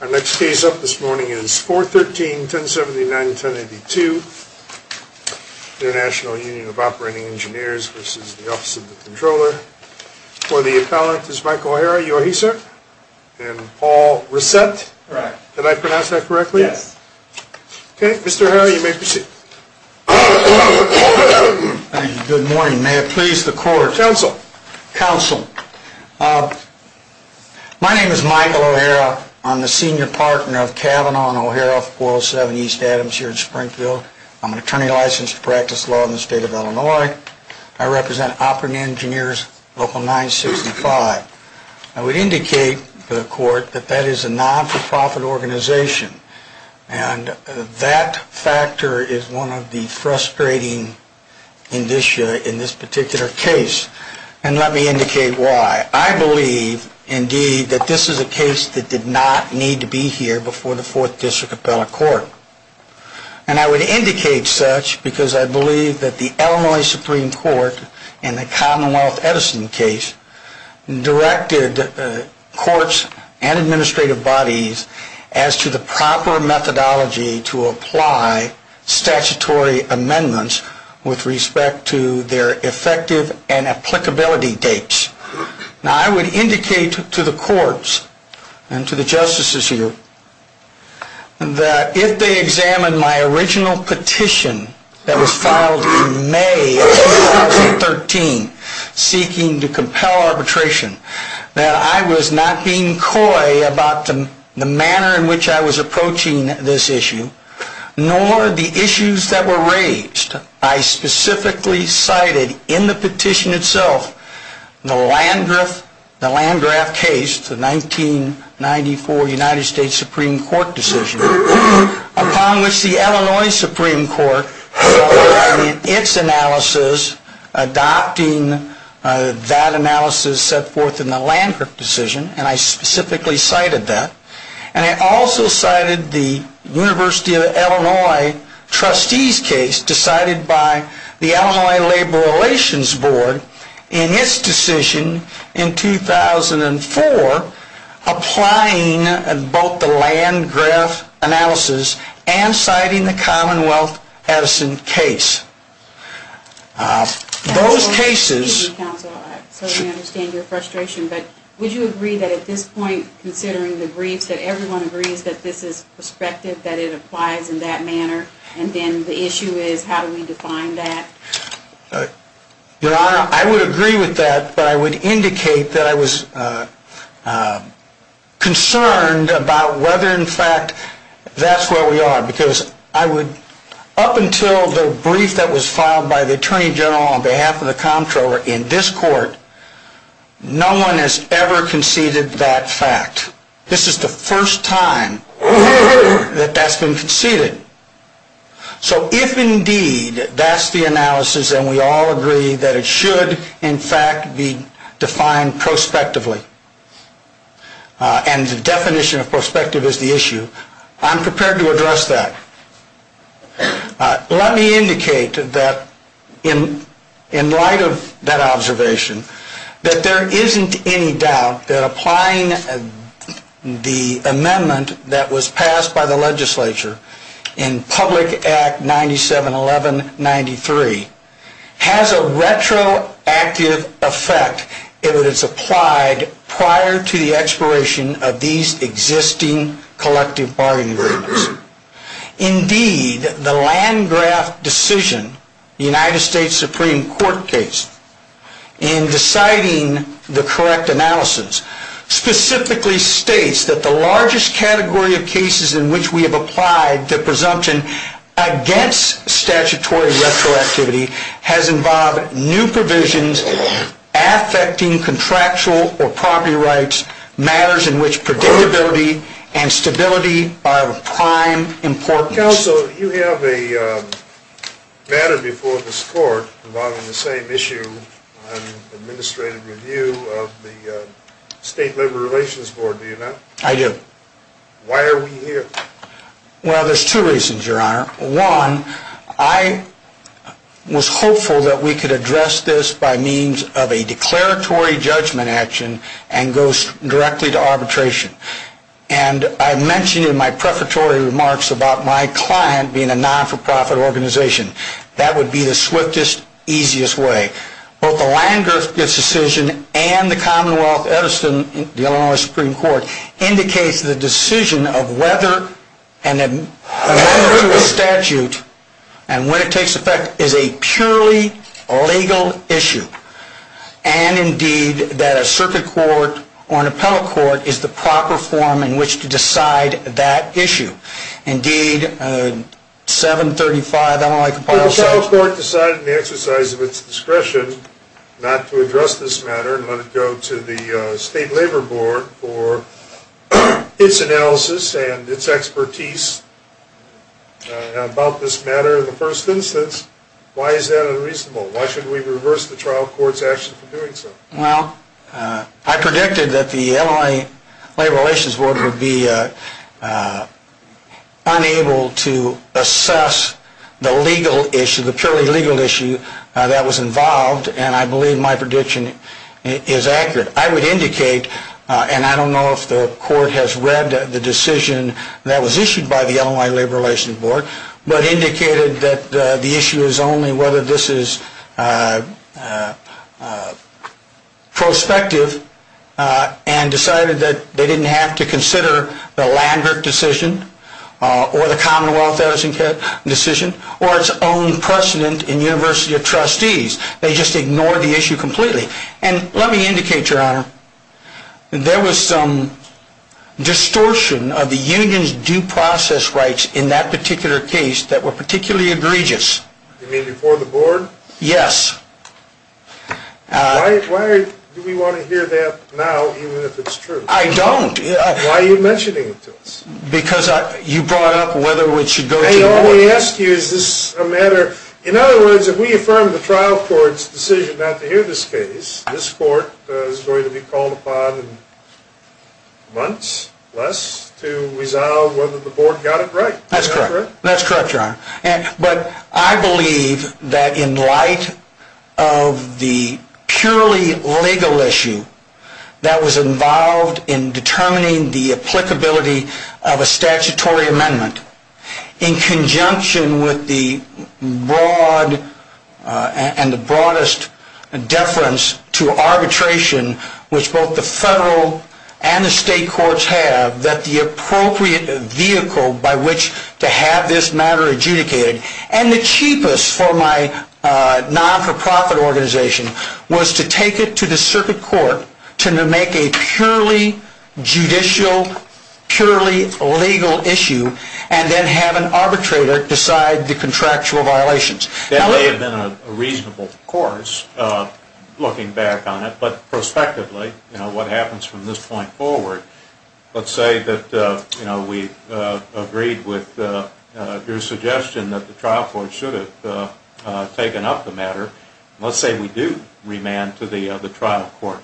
Our next case up this morning is 413-1079-1082, International Union of Operating Engineers v. Office of the Comptroller. For the appellant is Michael O'Hara, you are he, sir? And Paul Resett? Correct. Did I pronounce that correctly? Yes. Okay, Mr. O'Hara, you may proceed. Good morning. May it please the court. Counsel. Counsel, my name is Michael O'Hara. I'm the senior partner of Cavanaugh and O'Hara 407 East Adams here in Springfield. I'm an attorney licensed to practice law in the state of Illinois. I represent Operating Engineers Local 965. I would indicate to the court that that is a not-for-profit organization, and that factor is one of the frustrating indicia in this particular case. And let me indicate why. I believe, indeed, that this is a case that did not need to be here before the Fourth District Appellate Court. And I would indicate such because I believe that the Illinois Supreme Court in the Commonwealth Edison case directed courts and administrative bodies as to the proper methodology to apply statutory amendments with respect to their effective and applicability dates. Now, I would indicate to the courts and to the justices here that if they examine my original petition that was filed in May of 2013 seeking to compel arbitration, that I was not being coy about the manner in which I was approaching this issue, nor the issues that were raised. I specifically cited in the petition itself the Landgraf case, the 1994 United States Supreme Court decision, upon which the Illinois Supreme Court, in its analysis, adopting that analysis, set forth in the Landgraf decision, and I specifically cited that. And I also cited the University of Illinois Trustees case decided by the Illinois Labor Relations Board in its decision in 2004 applying both the Landgraf analysis and citing the Commonwealth Edison case. Those cases... Excuse me, counsel, so we understand your frustration, but would you agree that at this point, considering the briefs, that everyone agrees that this is prospective, that it applies in that manner, and then the issue is how do we define that? Your Honor, I would agree with that, but I would indicate that I was concerned about whether, in fact, that's where we are. Because I would... Up until the brief that was filed by the Attorney General on behalf of the Comptroller in this court, no one has ever conceded that fact. This is the first time that that's been conceded. So if, indeed, that's the analysis, and we all agree that it should, in fact, be defined prospectively, and the definition of prospective is the issue, I'm prepared to address that. Let me indicate that, in light of that observation, that there isn't any doubt that applying the amendment that was passed by the legislature in Public Act 97-1193 has a retroactive effect if it is applied prior to the expiration of these existing collective bargaining agreements. Indeed, the Landgraf decision, the United States Supreme Court case, in deciding the correct analysis, specifically states that the largest category of cases in which we have applied the presumption against statutory retroactivity has involved new provisions affecting contractual or property rights, matters in which predictability and stability are of prime importance. Counsel, you have a matter before this court involving the same issue on administrative review of the State Labor Relations Board. Do you know? I do. Why are we here? Well, there's two reasons, Your Honor. One, I was hopeful that we could address this by means of a declaratory judgment action and go directly to arbitration. And I mentioned in my prefatory remarks about my client being a not-for-profit organization. That would be the swiftest, easiest way. Both the Landgraf decision and the Commonwealth Edison, the Illinois Supreme Court, indicates the decision of whether a statute, and when it takes effect, is a purely legal issue and, indeed, that a circuit court or an appellate court is the proper form in which to decide that issue. Indeed, 735 Illinois Compile... If the trial court decided in the exercise of its discretion not to address this matter and let it go to the State Labor Board for its analysis and its expertise about this matter in the first instance, why is that unreasonable? Why should we reverse the trial court's action for doing so? Well, I predicted that the Illinois Labor Relations Board would be unable to assess the legal issue, the purely legal issue that was involved, and I believe my prediction is accurate. I would indicate, and I don't know if the court has read the decision that was issued by the Illinois Labor Relations Board, but indicated that the issue is only whether this is prospective and decided that they didn't have to consider the Landgraf decision or the Commonwealth Edison decision or its own precedent in University of Trustees. They just ignored the issue completely. And let me indicate, Your Honor, there was some distortion of the union's due process rights in that particular case that were particularly egregious. You mean before the board? Yes. Why do we want to hear that now, even if it's true? I don't. Why are you mentioning it to us? Because you brought up whether it should go to the board. All we ask you is this is a matter... In other words, if we affirm the trial court's decision not to hear this case, this court is going to be called upon in months, less, to resolve whether the board got it right. That's correct. Is that correct? That's correct, Your Honor. But I believe that in light of the purely legal issue that was involved in determining the applicability of a statutory amendment in conjunction with the broad and the broadest deference to arbitration, which both the federal and the state courts have, that the appropriate vehicle by which to have this matter adjudicated, and the cheapest for my non-for-profit organization, was to take it to the circuit court to make a purely judicial, purely legal issue and then have an arbitrator decide the contractual violations. That may have been a reasonable course, looking back on it. But prospectively, what happens from this point forward, let's say that we agreed with your suggestion that the trial court should have taken up the matter. Let's say we do remand to the trial court.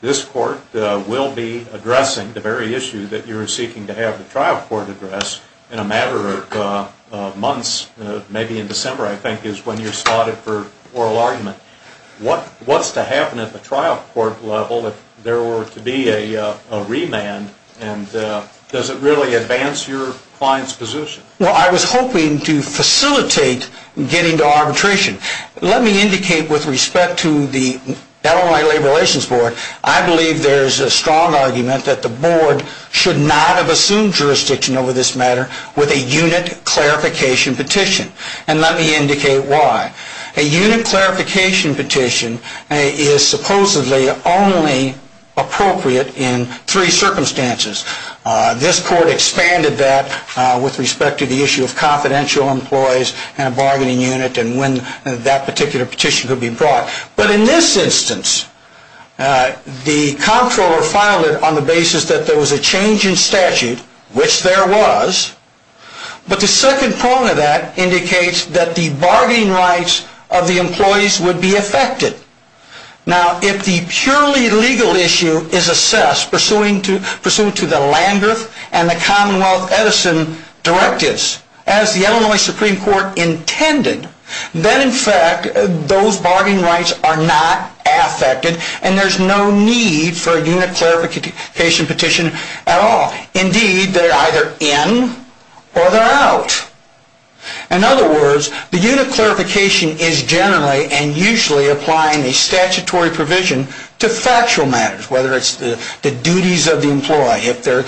This court will be addressing the very issue that you're seeking to have the trial court address in a matter of months, maybe in December, I think, is when you're slotted for oral argument. What's to happen at the trial court level if there were to be a remand, and does it really advance your client's position? Well, I was hoping to facilitate getting to arbitration. Let me indicate with respect to the Illinois Labor Relations Board, I believe there's a strong argument that the board should not have assumed jurisdiction over this matter with a unit clarification petition. And let me indicate why. A unit clarification petition is supposedly only appropriate in three circumstances. This court expanded that with respect to the issue of confidential employees and a bargaining unit and when that particular petition could be brought. But in this instance, the comptroller filed it on the basis that there was a change in statute, which there was. But the second prong of that indicates that the bargaining rights of the employees would be affected. Now, if the purely legal issue is assessed, pursuant to the Landreth and the Commonwealth Edison directives, as the Illinois Supreme Court intended, then, in fact, those bargaining rights are not affected and there's no need for a unit clarification petition at all. Indeed, they're either in or they're out. In other words, the unit clarification is generally and usually applying a statutory provision to factual matters, whether it's the duties of the employee, if they're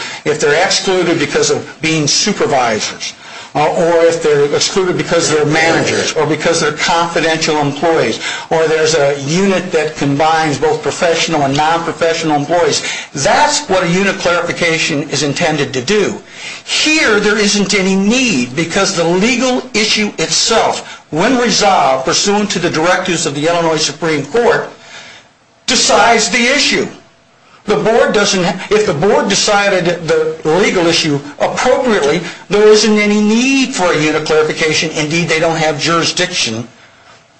excluded because of being supervisors, or if they're excluded because they're managers, or because they're confidential employees, or there's a unit that combines both professional and non-professional employees. That's what a unit clarification is intended to do. Here, there isn't any need because the legal issue itself, when resolved pursuant to the directives of the Illinois Supreme Court, decides the issue. If the board decided the legal issue appropriately, there isn't any need for a unit clarification. Indeed, they don't have jurisdiction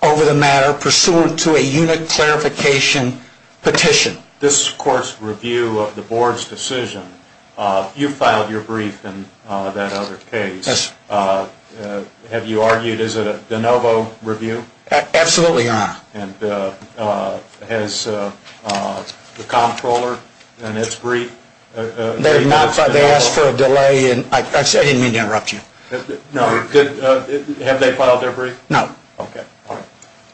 over the matter pursuant to a unit clarification petition. This court's review of the board's decision, you filed your brief in that other case. Have you argued is it a de novo review? Absolutely, Your Honor. Has the comptroller in its brief? They asked for a delay. I didn't mean to interrupt you. No. Have they filed their brief? No. Okay.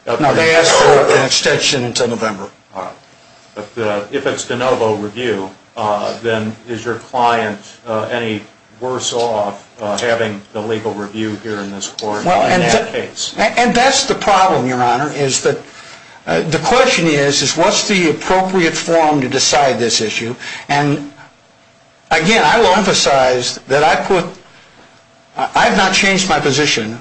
No, they asked for an extension until November. If it's de novo review, then is your client any worse off having the legal review here in this court in that case? That's the problem, Your Honor. The question is, what's the appropriate form to decide this issue? Again, I will emphasize that I have not changed my position,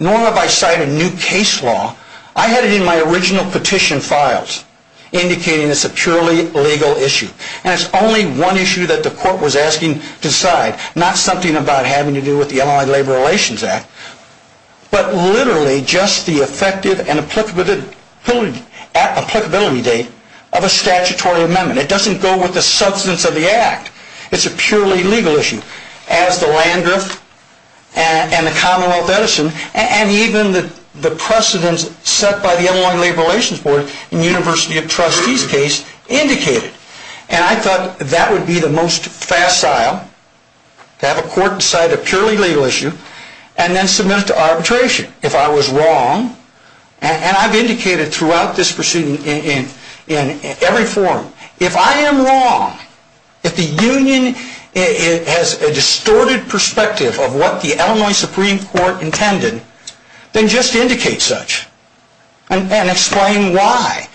nor have I cited new case law. I had it in my original petition files, indicating it's a purely legal issue. And it's only one issue that the court was asking to decide, not something about having to do with the Illinois Labor Relations Act, but literally just the effective and applicability date of a statutory amendment. It doesn't go with the substance of the act. It's a purely legal issue. As the Land Rift and the Commonwealth Edison, and even the precedents set by the Illinois Labor Relations Board in the University of Trustees case indicated. And I thought that would be the most facile, to have a court decide a purely legal issue, and then submit it to arbitration if I was wrong. And I've indicated throughout this proceeding in every forum, if I am wrong, if the union has a distorted perspective of what the Illinois Supreme Court intended, then just indicate such, and explain why.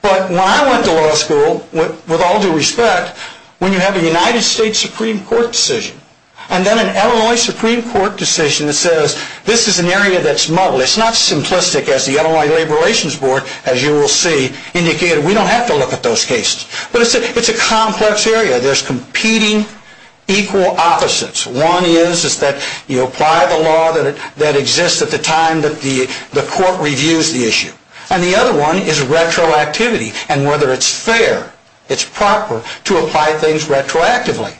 But when I went to law school, with all due respect, when you have a United States Supreme Court decision, and then an Illinois Supreme Court decision that says, this is an area that's muddled, it's not simplistic as the Illinois Labor Relations Board, as you will see, indicated, we don't have to look at those cases. But it's a complex area. There's competing equal opposites. One is that you apply the law that exists at the time that the court reviews the issue. And the other one is retroactivity, and whether it's fair, it's proper, to apply things retroactively.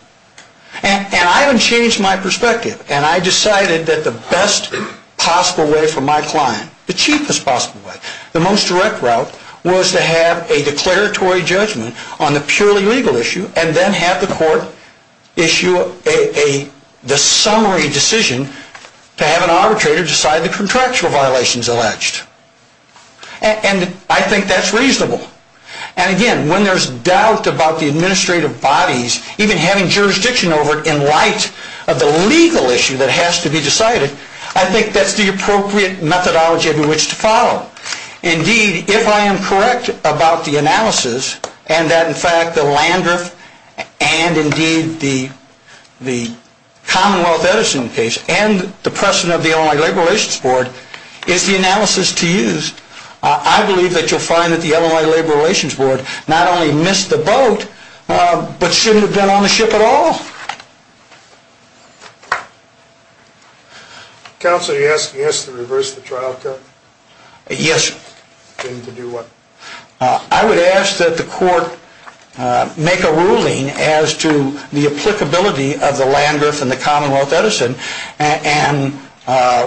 And I haven't changed my perspective. And I decided that the best possible way for my client, the cheapest possible way, the most direct route, was to have a declaratory judgment on the purely legal issue, and then have the court issue the summary decision to have an arbitrator decide the contractual violations alleged. And I think that's reasonable. And again, when there's doubt about the administrative bodies even having jurisdiction over it in light of the legal issue that has to be decided, I think that's the appropriate methodology under which to follow. Indeed, if I am correct about the analysis, and that in fact the Landriff and indeed the Commonwealth Edison case and the precedent of the Illinois Labor Relations Board is the analysis to use, I believe that you'll find that the Illinois Labor Relations Board not only missed the boat, but shouldn't have been on the ship at all. Counsel, you're asking us to reverse the trial, correct? Yes. To do what? I would ask that the court make a ruling as to the applicability of the Landriff and the Commonwealth Edison, and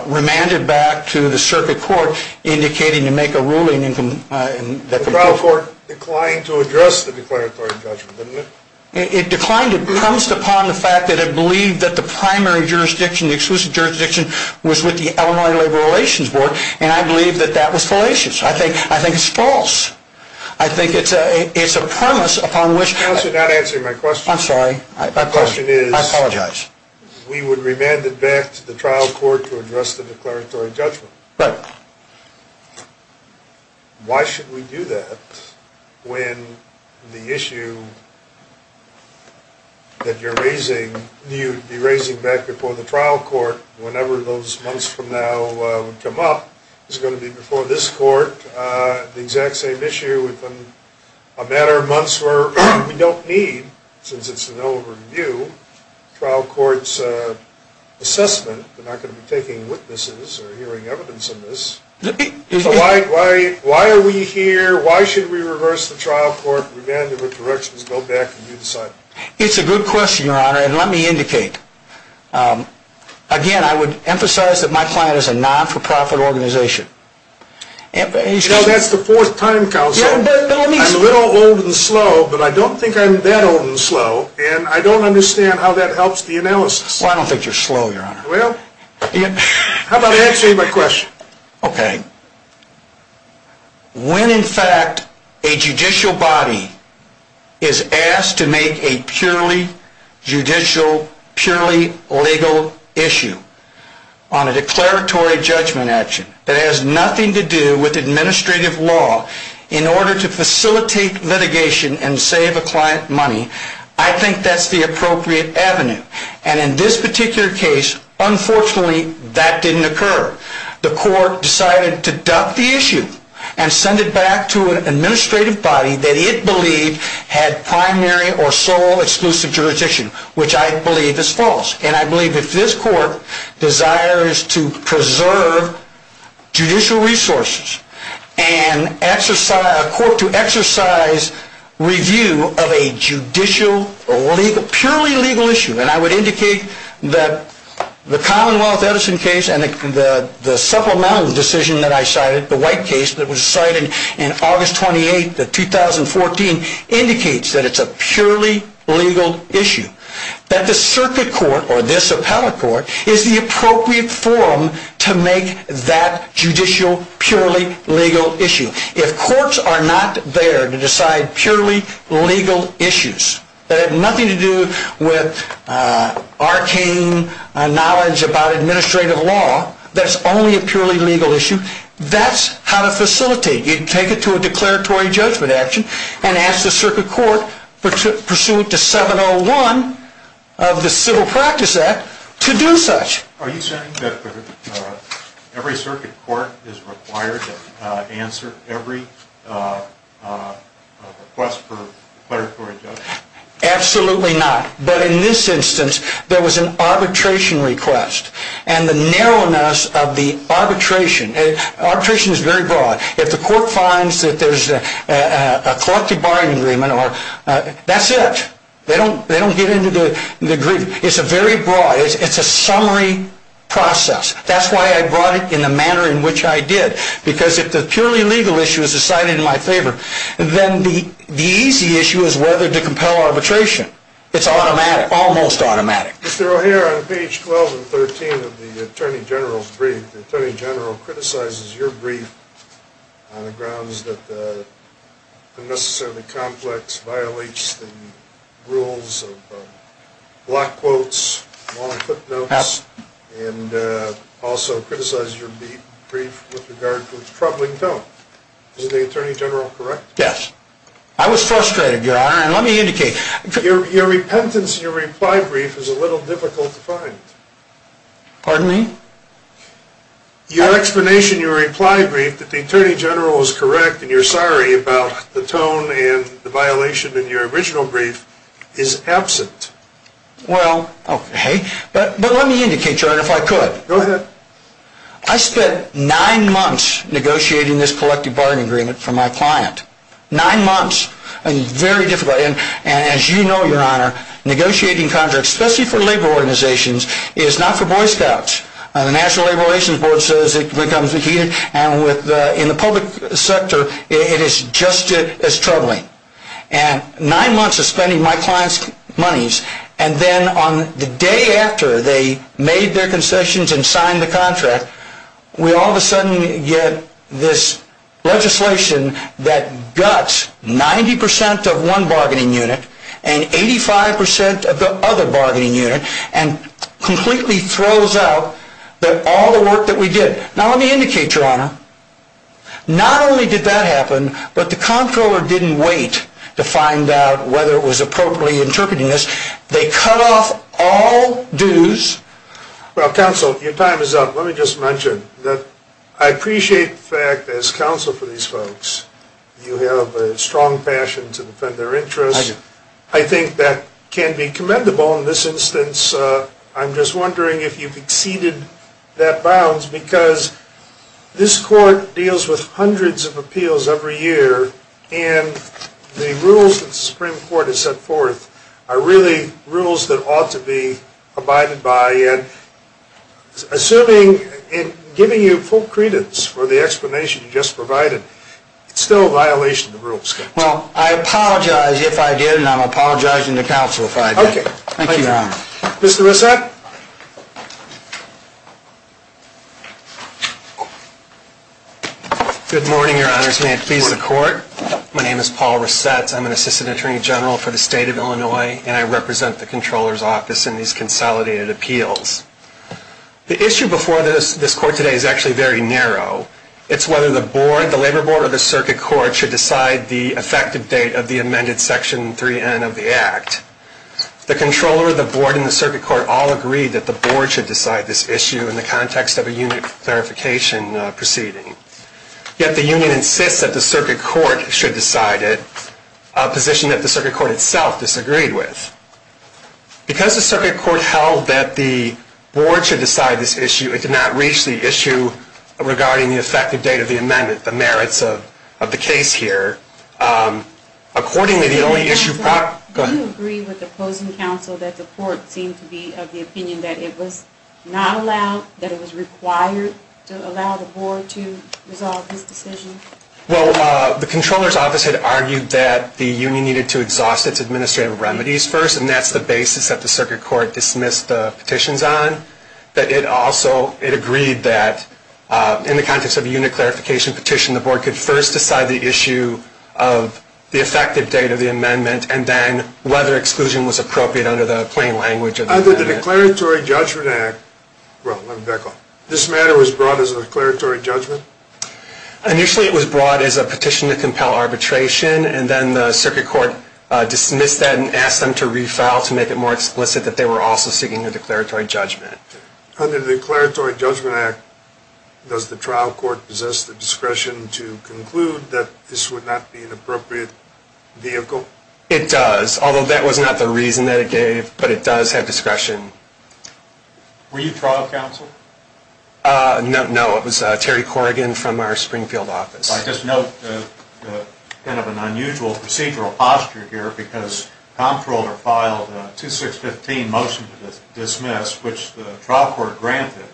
remand it back to the circuit court indicating to make a ruling. The trial court declined to address the declaratory judgment, didn't it? It declined. It promised upon the fact that it believed that the primary jurisdiction, the exclusive jurisdiction, was with the Illinois Labor Relations Board, and I believe that that was fallacious. I think it's false. I think it's a premise upon which... Counsel, you're not answering my question. I'm sorry. My question is... I apologize. We would remand it back to the trial court to address the declaratory judgment. Right. Why should we do that when the issue that you're raising, you'd be raising back before the trial court, whenever those months from now would come up, is going to be before this court, the exact same issue within a matter of months where we don't need, since it's an old review, trial court's assessment. They're not going to be taking witnesses or hearing evidence in this. Why are we here? Why should we reverse the trial court, remand it with directions, go back and do the same? It's a good question, Your Honor, and let me indicate. Again, I would emphasize that my client is a not-for-profit organization. That's the fourth time, Counsel. I'm a little old and slow, but I don't think I'm that old and slow, and I don't understand how that helps the analysis. Well, I don't think you're slow, Your Honor. How about I answer your question? Okay. When, in fact, a judicial body is asked to make a purely judicial, purely legal issue on a declaratory judgment action that has nothing to do with administrative law in order to facilitate litigation and save a client money, I think that's the appropriate avenue, and in this particular case, unfortunately, that didn't occur. The court decided to duck the issue and send it back to an administrative body that it believed had primary or sole exclusive jurisdiction, which I believe is false, and I believe if this court desires to preserve judicial resources and a court to exercise review of a judicial, purely legal issue, and I would indicate that the Commonwealth Edison case and the supplemental decision that I cited, the white case that was cited in August 28, 2014, indicates that it's a purely legal issue, that the circuit court, or this appellate court, is the appropriate forum to make that judicial, purely legal issue. If courts are not there to decide purely legal issues that have nothing to do with arcane knowledge about administrative law, that's only a purely legal issue, that's how to facilitate. You take it to a declaratory judgment action and ask the circuit court, pursuant to 701 of the Civil Practice Act, to do such. Are you saying that every circuit court is required to answer every request for declaratory judgment? Absolutely not. But in this instance, there was an arbitration request, and the narrowness of the arbitration, arbitration is very broad. If the court finds that there's a collective bargaining agreement or that's it, they don't get into the agreement. It's a very broad, it's a summary process. That's why I brought it in the manner in which I did, because if the purely legal issue is decided in my favor, then the easy issue is whether to compel arbitration. It's automatic, almost automatic. Mr. O'Hare, on page 12 and 13 of the Attorney General's brief, the Attorney General criticizes your brief on the grounds that it's unnecessarily complex, violates the rules of block quotes, long footnotes, and also criticizes your brief with regard to its troubling tone. Is the Attorney General correct? Yes. I was frustrated, Your Honor, and let me indicate. Your repentance in your reply brief is a little difficult to find. Pardon me? Your explanation in your reply brief that the Attorney General is correct and you're sorry about the tone and the violation in your original brief is absent. Well, okay, but let me indicate, Your Honor, if I could. Go ahead. I spent nine months negotiating this collective bargaining agreement for my client. Nine months, and very difficult. And as you know, Your Honor, negotiating contracts, especially for labor organizations, is not for Boy Scouts. The National Labor Relations Board says it becomes heated, and in the public sector it is just as troubling. And nine months of spending my client's monies, and then on the day after they made their concessions and signed the contract, we all of a sudden get this legislation that guts 90% of one bargaining unit and 85% of the other bargaining unit, and completely throws out all the work that we did. Now, let me indicate, Your Honor, not only did that happen, but the comptroller didn't wait to find out whether it was appropriately interpreting this. They cut off all dues. Well, counsel, your time is up. Let me just mention that I appreciate the fact, as counsel for these folks, you have a strong passion to defend their interests. I do. I think that can be commendable in this instance. I'm just wondering if you've exceeded that bounds, because this court deals with hundreds of appeals every year, and the rules that the Supreme Court has set forth are really rules that ought to be abided by. Assuming and giving you full credence for the explanation you just provided, it's still a violation of the rules. Well, I apologize if I did, and I'm apologizing to counsel if I did. Okay. Thank you, Your Honor. Mr. Resett? Good morning, Your Honors. May it please the Court. My name is Paul Resett. I'm an assistant attorney general for the state of Illinois, and I represent the comptroller's office in these consolidated appeals. The issue before this court today is actually very narrow. It's whether the board, the labor board, or the circuit court should decide the effective date of the amended Section 3N of the Act. The comptroller, the board, and the circuit court all agree that the board should decide this issue in the context of a unit clarification proceeding. Yet the union insists that the circuit court should decide it, a position that the circuit court itself disagreed with. Because the circuit court held that the board should decide this issue, it did not reach the issue regarding the effective date of the amendment, the merits of the case here. Accordingly, the only issue- Mr. Resett, do you agree with the opposing counsel that the court seemed to be of the opinion that it was not allowed, that it was required to allow the board to resolve this decision? Well, the comptroller's office had argued that the union needed to exhaust its administrative remedies first, and that's the basis that the circuit court dismissed the petitions on. But it also, it agreed that in the context of a unit clarification petition, the board could first decide the issue of the effective date of the amendment, and then whether exclusion was appropriate under the plain language of the amendment. Under the Declaratory Judgment Act, well, let me back up. This matter was brought as a declaratory judgment? Initially, it was brought as a petition to compel arbitration, and then the circuit court dismissed that and asked them to refile to make it more explicit that they were also seeking a declaratory judgment. Under the Declaratory Judgment Act, does the trial court possess the discretion to conclude that this would not be an appropriate vehicle? It does, although that was not the reason that it gave, but it does have discretion. Were you trial counsel? No, it was Terry Corrigan from our Springfield office. I just note kind of an unusual procedural posture here, because Comptroller filed a 2615 motion to dismiss, which the trial court granted,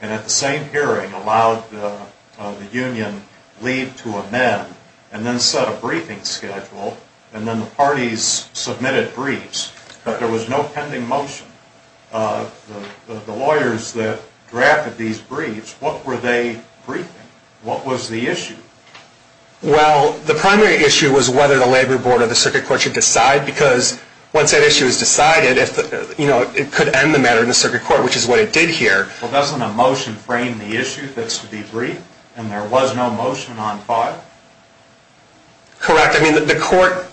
and at the same hearing allowed the union leave to amend, and then set a briefing schedule, and then the parties submitted briefs, but there was no pending motion. The lawyers that drafted these briefs, what were they briefing? What was the issue? Well, the primary issue was whether the labor board or the circuit court should decide, because once that issue is decided, it could end the matter in the circuit court, which is what it did here. Well, doesn't a motion frame the issue that's to be briefed, and there was no motion on file? Correct. I mean, the court,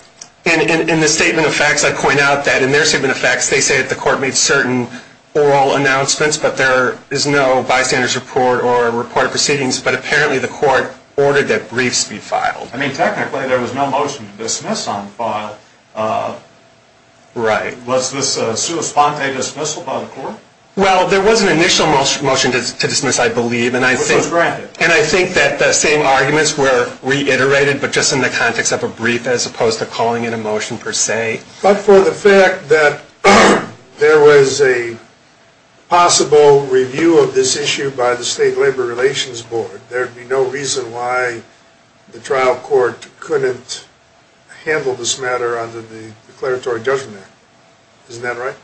in the statement of facts, I point out that in their statement of facts, they say that the court made certain oral announcements, but there is no bystander's report or reported proceedings, but apparently the court ordered that briefs be filed. I mean, technically, there was no motion to dismiss on file. Right. Was this a sua sponte dismissal by the court? Well, there was an initial motion to dismiss, I believe, and I think that the same arguments were reiterated, but just in the context of a brief as opposed to calling it a motion per se. But for the fact that there was a possible review of this issue by the state labor relations board, there would be no reason why the trial court couldn't handle this matter under the declaratory judgment. Isn't that right?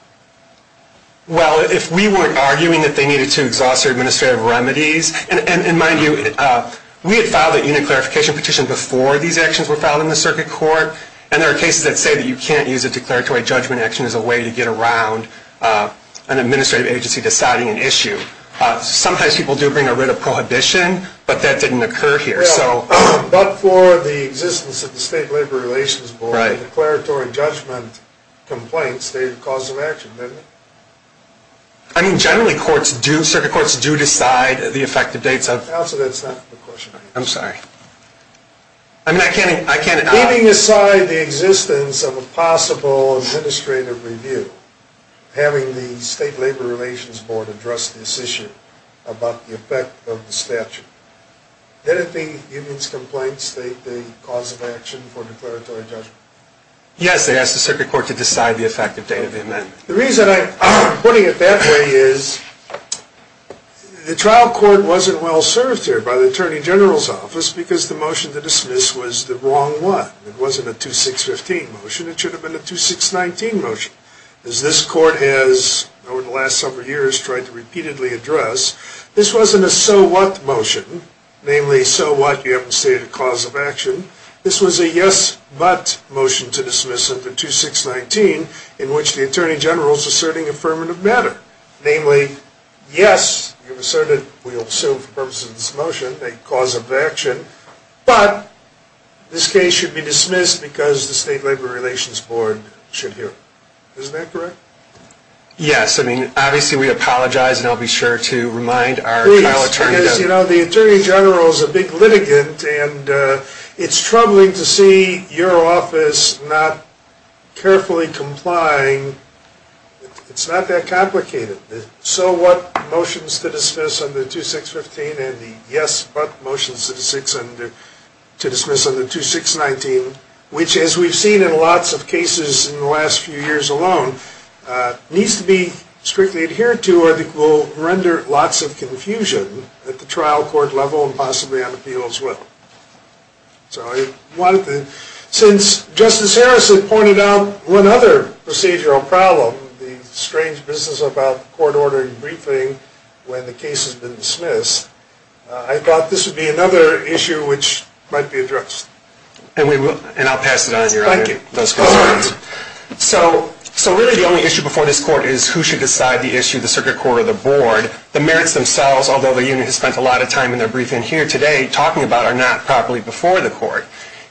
Well, if we weren't arguing that they needed to exhaust their administrative remedies, and mind you, we had filed a unit clarification petition before these actions were filed in the circuit court, and there are cases that say that you can't use a declaratory judgment action as a way to get around an administrative agency deciding an issue. Sometimes people do bring a writ of prohibition, but that didn't occur here. Well, but for the existence of the state labor relations board, a declaratory judgment complaint stated the cause of action, didn't it? I mean, generally circuit courts do decide the effective dates. Counsel, that's not the question. I'm sorry. I mean, I can't— Leaving aside the existence of a possible administrative review, having the state labor relations board address this issue about the effect of the statute, didn't the union's complaint state the cause of action for declaratory judgment? Yes, they asked the circuit court to decide the effective date of the amendment. The reason I'm putting it that way is the trial court wasn't well served here by the attorney general's office because the motion to dismiss was the wrong one. It wasn't a 2615 motion. It should have been a 2619 motion. As this court has, over the last several years, tried to repeatedly address, this wasn't a so what motion, namely so what you haven't stated a cause of action. This was a yes but motion to dismiss of the 2619 in which the attorney general is asserting affirmative matter. Namely, yes, you've asserted we will pursue for purposes of this motion a cause of action, but this case should be dismissed because the state labor relations board should hear. Isn't that correct? Yes. I mean, obviously we apologize, and I'll be sure to remind our trial attorney— It's troubling to see your office not carefully complying. It's not that complicated. The so what motions to dismiss on the 2615 and the yes but motions to dismiss on the 2619, which as we've seen in lots of cases in the last few years alone, needs to be strictly adhered to or it will render lots of confusion at the trial court level and possibly on appeal as well. Since Justice Harrison pointed out one other procedural problem, the strange business about court ordering briefing when the case has been dismissed, I thought this would be another issue which might be addressed. And I'll pass it on to your honor. Thank you. So really the only issue before this court is who should decide the issue, the circuit court or the board. The merits themselves, although the unit has spent a lot of time in their briefing here today, talking about are not properly before the court.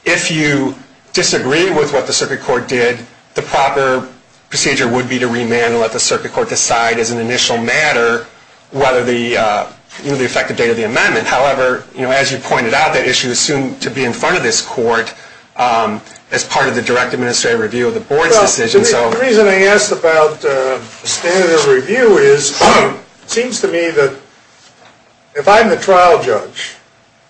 If you disagree with what the circuit court did, the proper procedure would be to remand and let the circuit court decide as an initial matter whether the effective date of the amendment. However, as you pointed out, that issue is soon to be in front of this court as part of the direct administrative review of the board's decision. The reason I asked about the standard of review is it seems to me that if I'm the trial judge,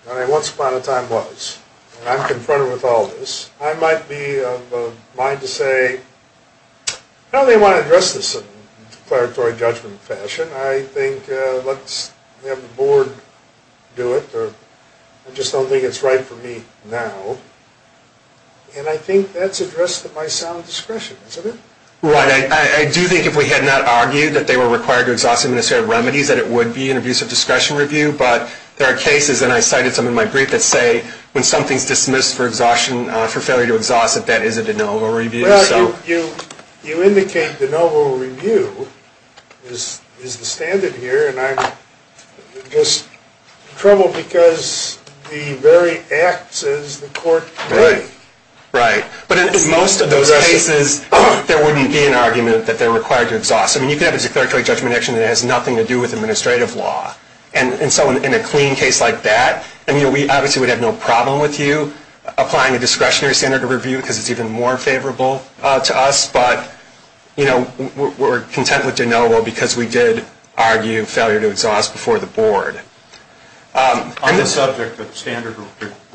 and I once upon a time was, and I'm confronted with all this, I might be of a mind to say I don't really want to address this in a declaratory judgment fashion. I think let's have the board do it. I just don't think it's right for me now. And I think that's addressed at my sound discretion, isn't it? Right. I do think if we had not argued that they were required to exhaust administrative remedies, that it would be an abuse of discretion review. But there are cases, and I cited some in my brief, that say when something's dismissed for exhaustion, for failure to exhaust, that that is a de novo review. Well, you indicate de novo review is the standard here, and I'm just troubled because the very act says the court could. Right. But in most of those cases, there wouldn't be an argument that they're required to exhaust. I mean, you could have a declaratory judgment action that has nothing to do with administrative law. And so in a clean case like that, I mean, we obviously would have no problem with you applying a discretionary standard of review because it's even more favorable to us. But, you know, we're content with de novo because we did argue failure to exhaust before the board. On the subject of standard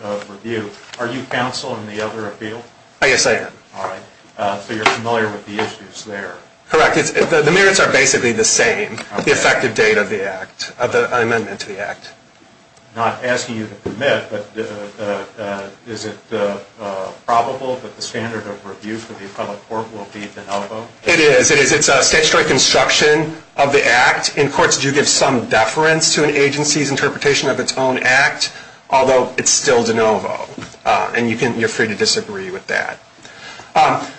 of review, are you counsel in the other appeal? Yes, I am. All right. So you're familiar with the issues there. Correct. The merits are basically the same, the effective date of the act, of the amendment to the act. Not asking you to permit, but is it probable that the standard of review for the appellate court will be de novo? It is. It is. It's a statutory construction of the act. In courts, you give some deference to an agency's interpretation of its own act, although it's still de novo. And you're free to disagree with that.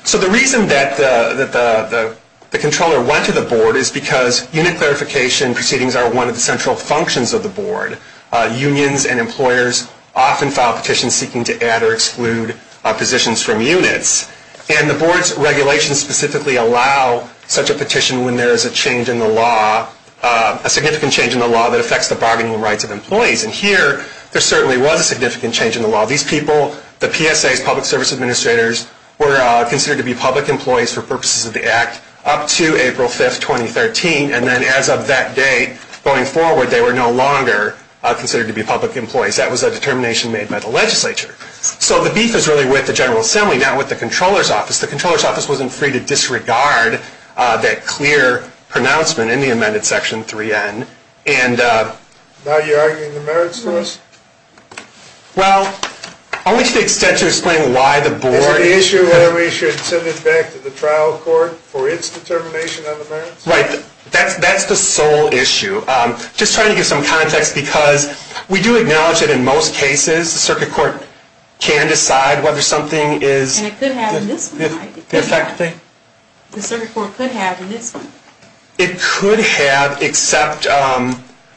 So the reason that the controller went to the board is because unit clarification proceedings are one of the central functions of the board. Unions and employers often file petitions seeking to add or exclude positions from units. And the board's regulations specifically allow such a petition when there is a change in the law, a significant change in the law that affects the bargaining rights of employees. And here, there certainly was a significant change in the law. These people, the PSAs, public service administrators, were considered to be public employees for purposes of the act up to April 5, 2013. And then as of that date, going forward, they were no longer considered to be public employees. That was a determination made by the legislature. So the beef is really with the General Assembly, not with the Comptroller's Office. The Comptroller's Office wasn't free to disregard that clear pronouncement in the amended Section 3N. Now you're arguing the merits for us? Well, I wish to extend to explain why the board Is it the issue whether we should send it back to the trial court for its determination on the merits? Right. That's the sole issue. Just trying to give some context, because we do acknowledge that in most cases, the circuit court can decide whether something is And it could have in this one, right? The effective date? The circuit court could have in this one. It could have, except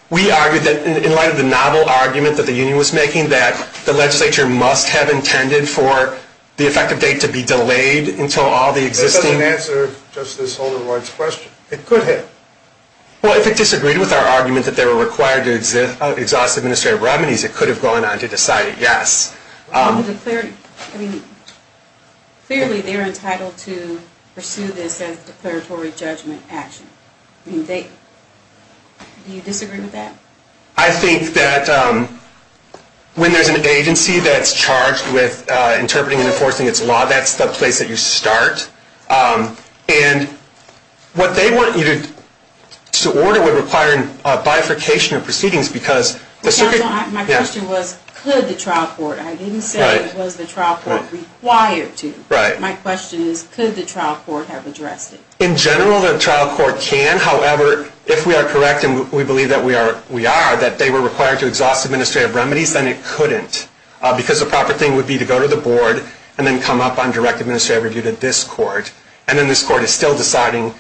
we argued that in light of the novel argument that the union was making, that the legislature must have intended for the effective date to be delayed until all the existing That doesn't answer Justice Holder-White's question. It could have. Well, if it disagreed with our argument that they were required to exhaust administrative remedies, it could have gone on to decide yes. Clearly they're entitled to pursue this as declaratory judgment action. Do you disagree with that? I think that when there's an agency that's charged with interpreting and enforcing its law, that's the place that you start. And what they want you to order would require a bifurcation of proceedings because the circuit My question was, could the trial court? I didn't say, was the trial court required to? Right. My question is, could the trial court have addressed it? In general, the trial court can. However, if we are correct, and we believe that we are, that they were required to exhaust administrative remedies, then it couldn't. Because the proper thing would be to go to the board and then come up on direct administrative review to this court. And then this court is still deciding,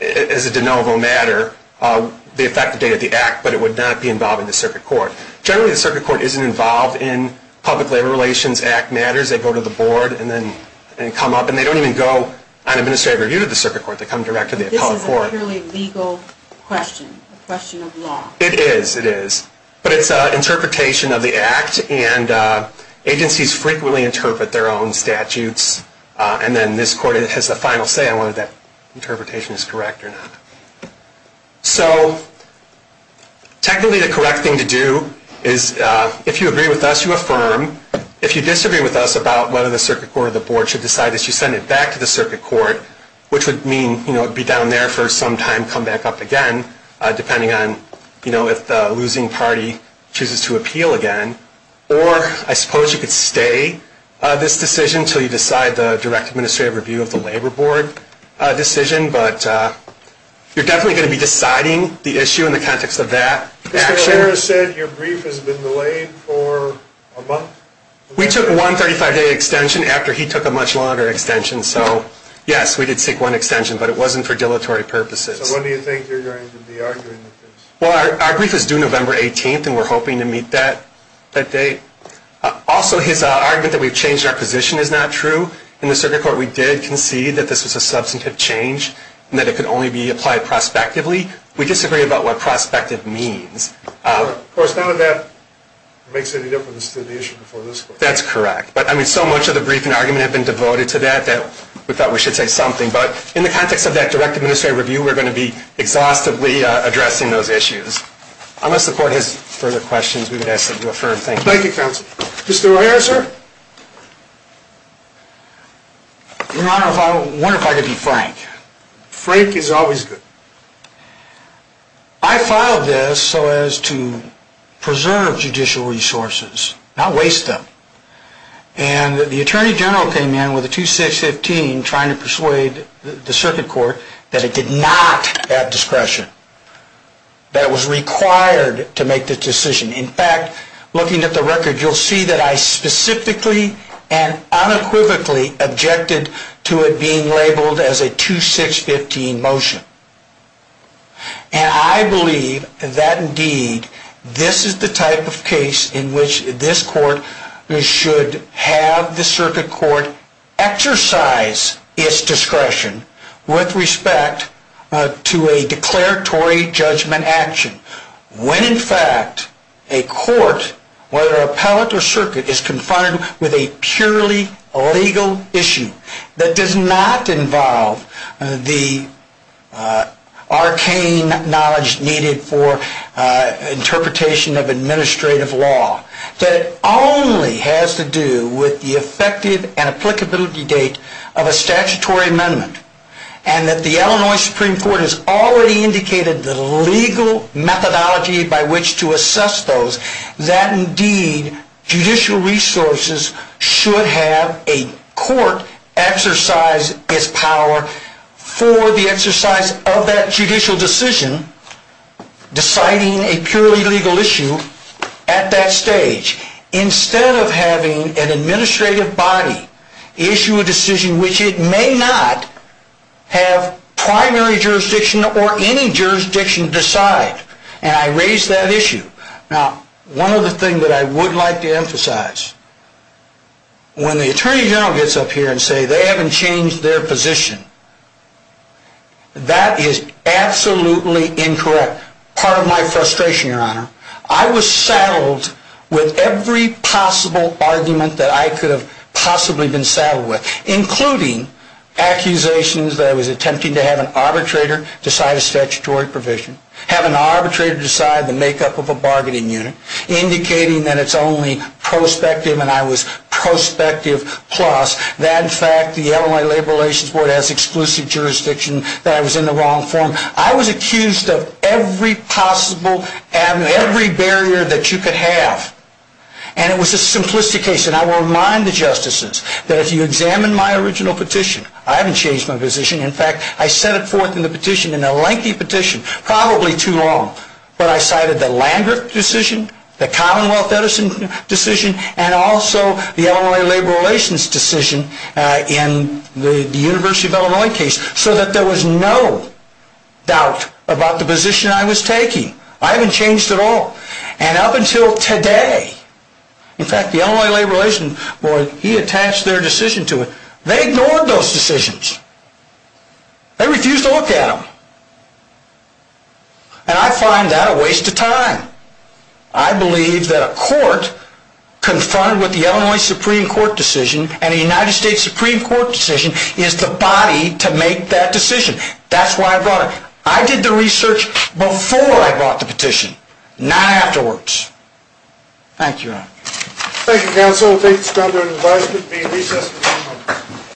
as a de novo matter, the effective date of the act, but it would not be involved in the circuit court. Generally, the circuit court isn't involved in public labor relations act matters. They go to the board and then come up. And they don't even go on administrative review to the circuit court. They come directly to the appellate court. This is an utterly legal question. A question of law. It is. It is. But it's an interpretation of the act. And agencies frequently interpret their own statutes. And then this court has a final say on whether that interpretation is correct or not. So technically, the correct thing to do is, if you agree with us, you affirm. If you disagree with us about whether the circuit court or the board should decide this, you send it back to the circuit court, which would mean it would be down there for some time, come back up again, depending on if the losing party chooses to appeal again. Or I suppose you could stay this decision until you decide the direct administrative review of the labor board decision. But you're definitely going to be deciding the issue in the context of that action. Mr. O'Hara said your brief has been delayed for a month. We took a 135-day extension after he took a much longer extension. So, yes, we did seek one extension, but it wasn't for dilatory purposes. So when do you think you're going to be arguing with this? Well, our brief is due November 18th, and we're hoping to meet that date. Also, his argument that we've changed our position is not true. In the circuit court, we did concede that this was a substantive change and that it could only be applied prospectively. We disagree about what prospective means. Of course, none of that makes any difference to the issue before this court. That's correct. But, I mean, so much of the brief and argument have been devoted to that that we thought we should say something. But in the context of that direct administrative review, we're going to be exhaustively addressing those issues. Unless the court has further questions, we would ask that you affirm. Thank you. Thank you, counsel. Mr. O'Hara, sir? Your Honor, I wonder if I could be frank. Frank is always good. I filed this so as to preserve judicial resources, not waste them. And the attorney general came in with a 2615 trying to persuade the circuit court that it did not have discretion, that it was required to make the decision. In fact, looking at the record, you'll see that I specifically and unequivocally objected to it being labeled as a 2615 motion. And I believe that, indeed, this is the type of case in which this court should have the circuit court exercise its discretion with respect to a declaratory judgment action. When, in fact, a court, whether appellate or circuit, is confronted with a purely legal issue that does not involve the arcane knowledge needed for interpretation of administrative law, that it only has to do with the effective and applicability date of a statutory amendment, and that the Illinois Supreme Court has already indicated the legal methodology by which to assess those, that, indeed, judicial resources should have a court exercise its power for the exercise of that judicial decision, deciding a purely legal issue at that stage, instead of having an administrative body issue a decision which it may not have primary jurisdiction or any jurisdiction decide. And I raised that issue. Now, one other thing that I would like to emphasize, when the Attorney General gets up here and says they haven't changed their position, that is absolutely incorrect. Part of my frustration, Your Honor. I was saddled with every possible argument that I could have possibly been saddled with, including accusations that I was attempting to have an arbitrator decide a statutory provision, have an arbitrator decide the makeup of a bargaining unit, indicating that it's only prospective and I was prospective plus, that, in fact, the Illinois Labor Relations Board has exclusive jurisdiction, that I was in the wrong forum. I was accused of every possible and every barrier that you could have. And it was a simplistic case. And I will remind the justices that if you examine my original petition, I haven't changed my position. In fact, I set it forth in the petition, in a lengthy petition, probably too long, but I cited the Landrick decision, the Commonwealth Edison decision, and also the Illinois Labor Relations decision in the University of Illinois case, so that there was no doubt about the position I was taking. I haven't changed at all. And up until today, in fact, the Illinois Labor Relations Board, he attached their decision to it. They ignored those decisions. They refused to look at them. And I find that a waste of time. I believe that a court confronted with the Illinois Supreme Court decision and a United States Supreme Court decision is the body to make that decision. That's why I brought it. I did the research before I brought the petition, not afterwards. Thank you, Your Honor. Thank you, counsel. We'll take this down to an advisement.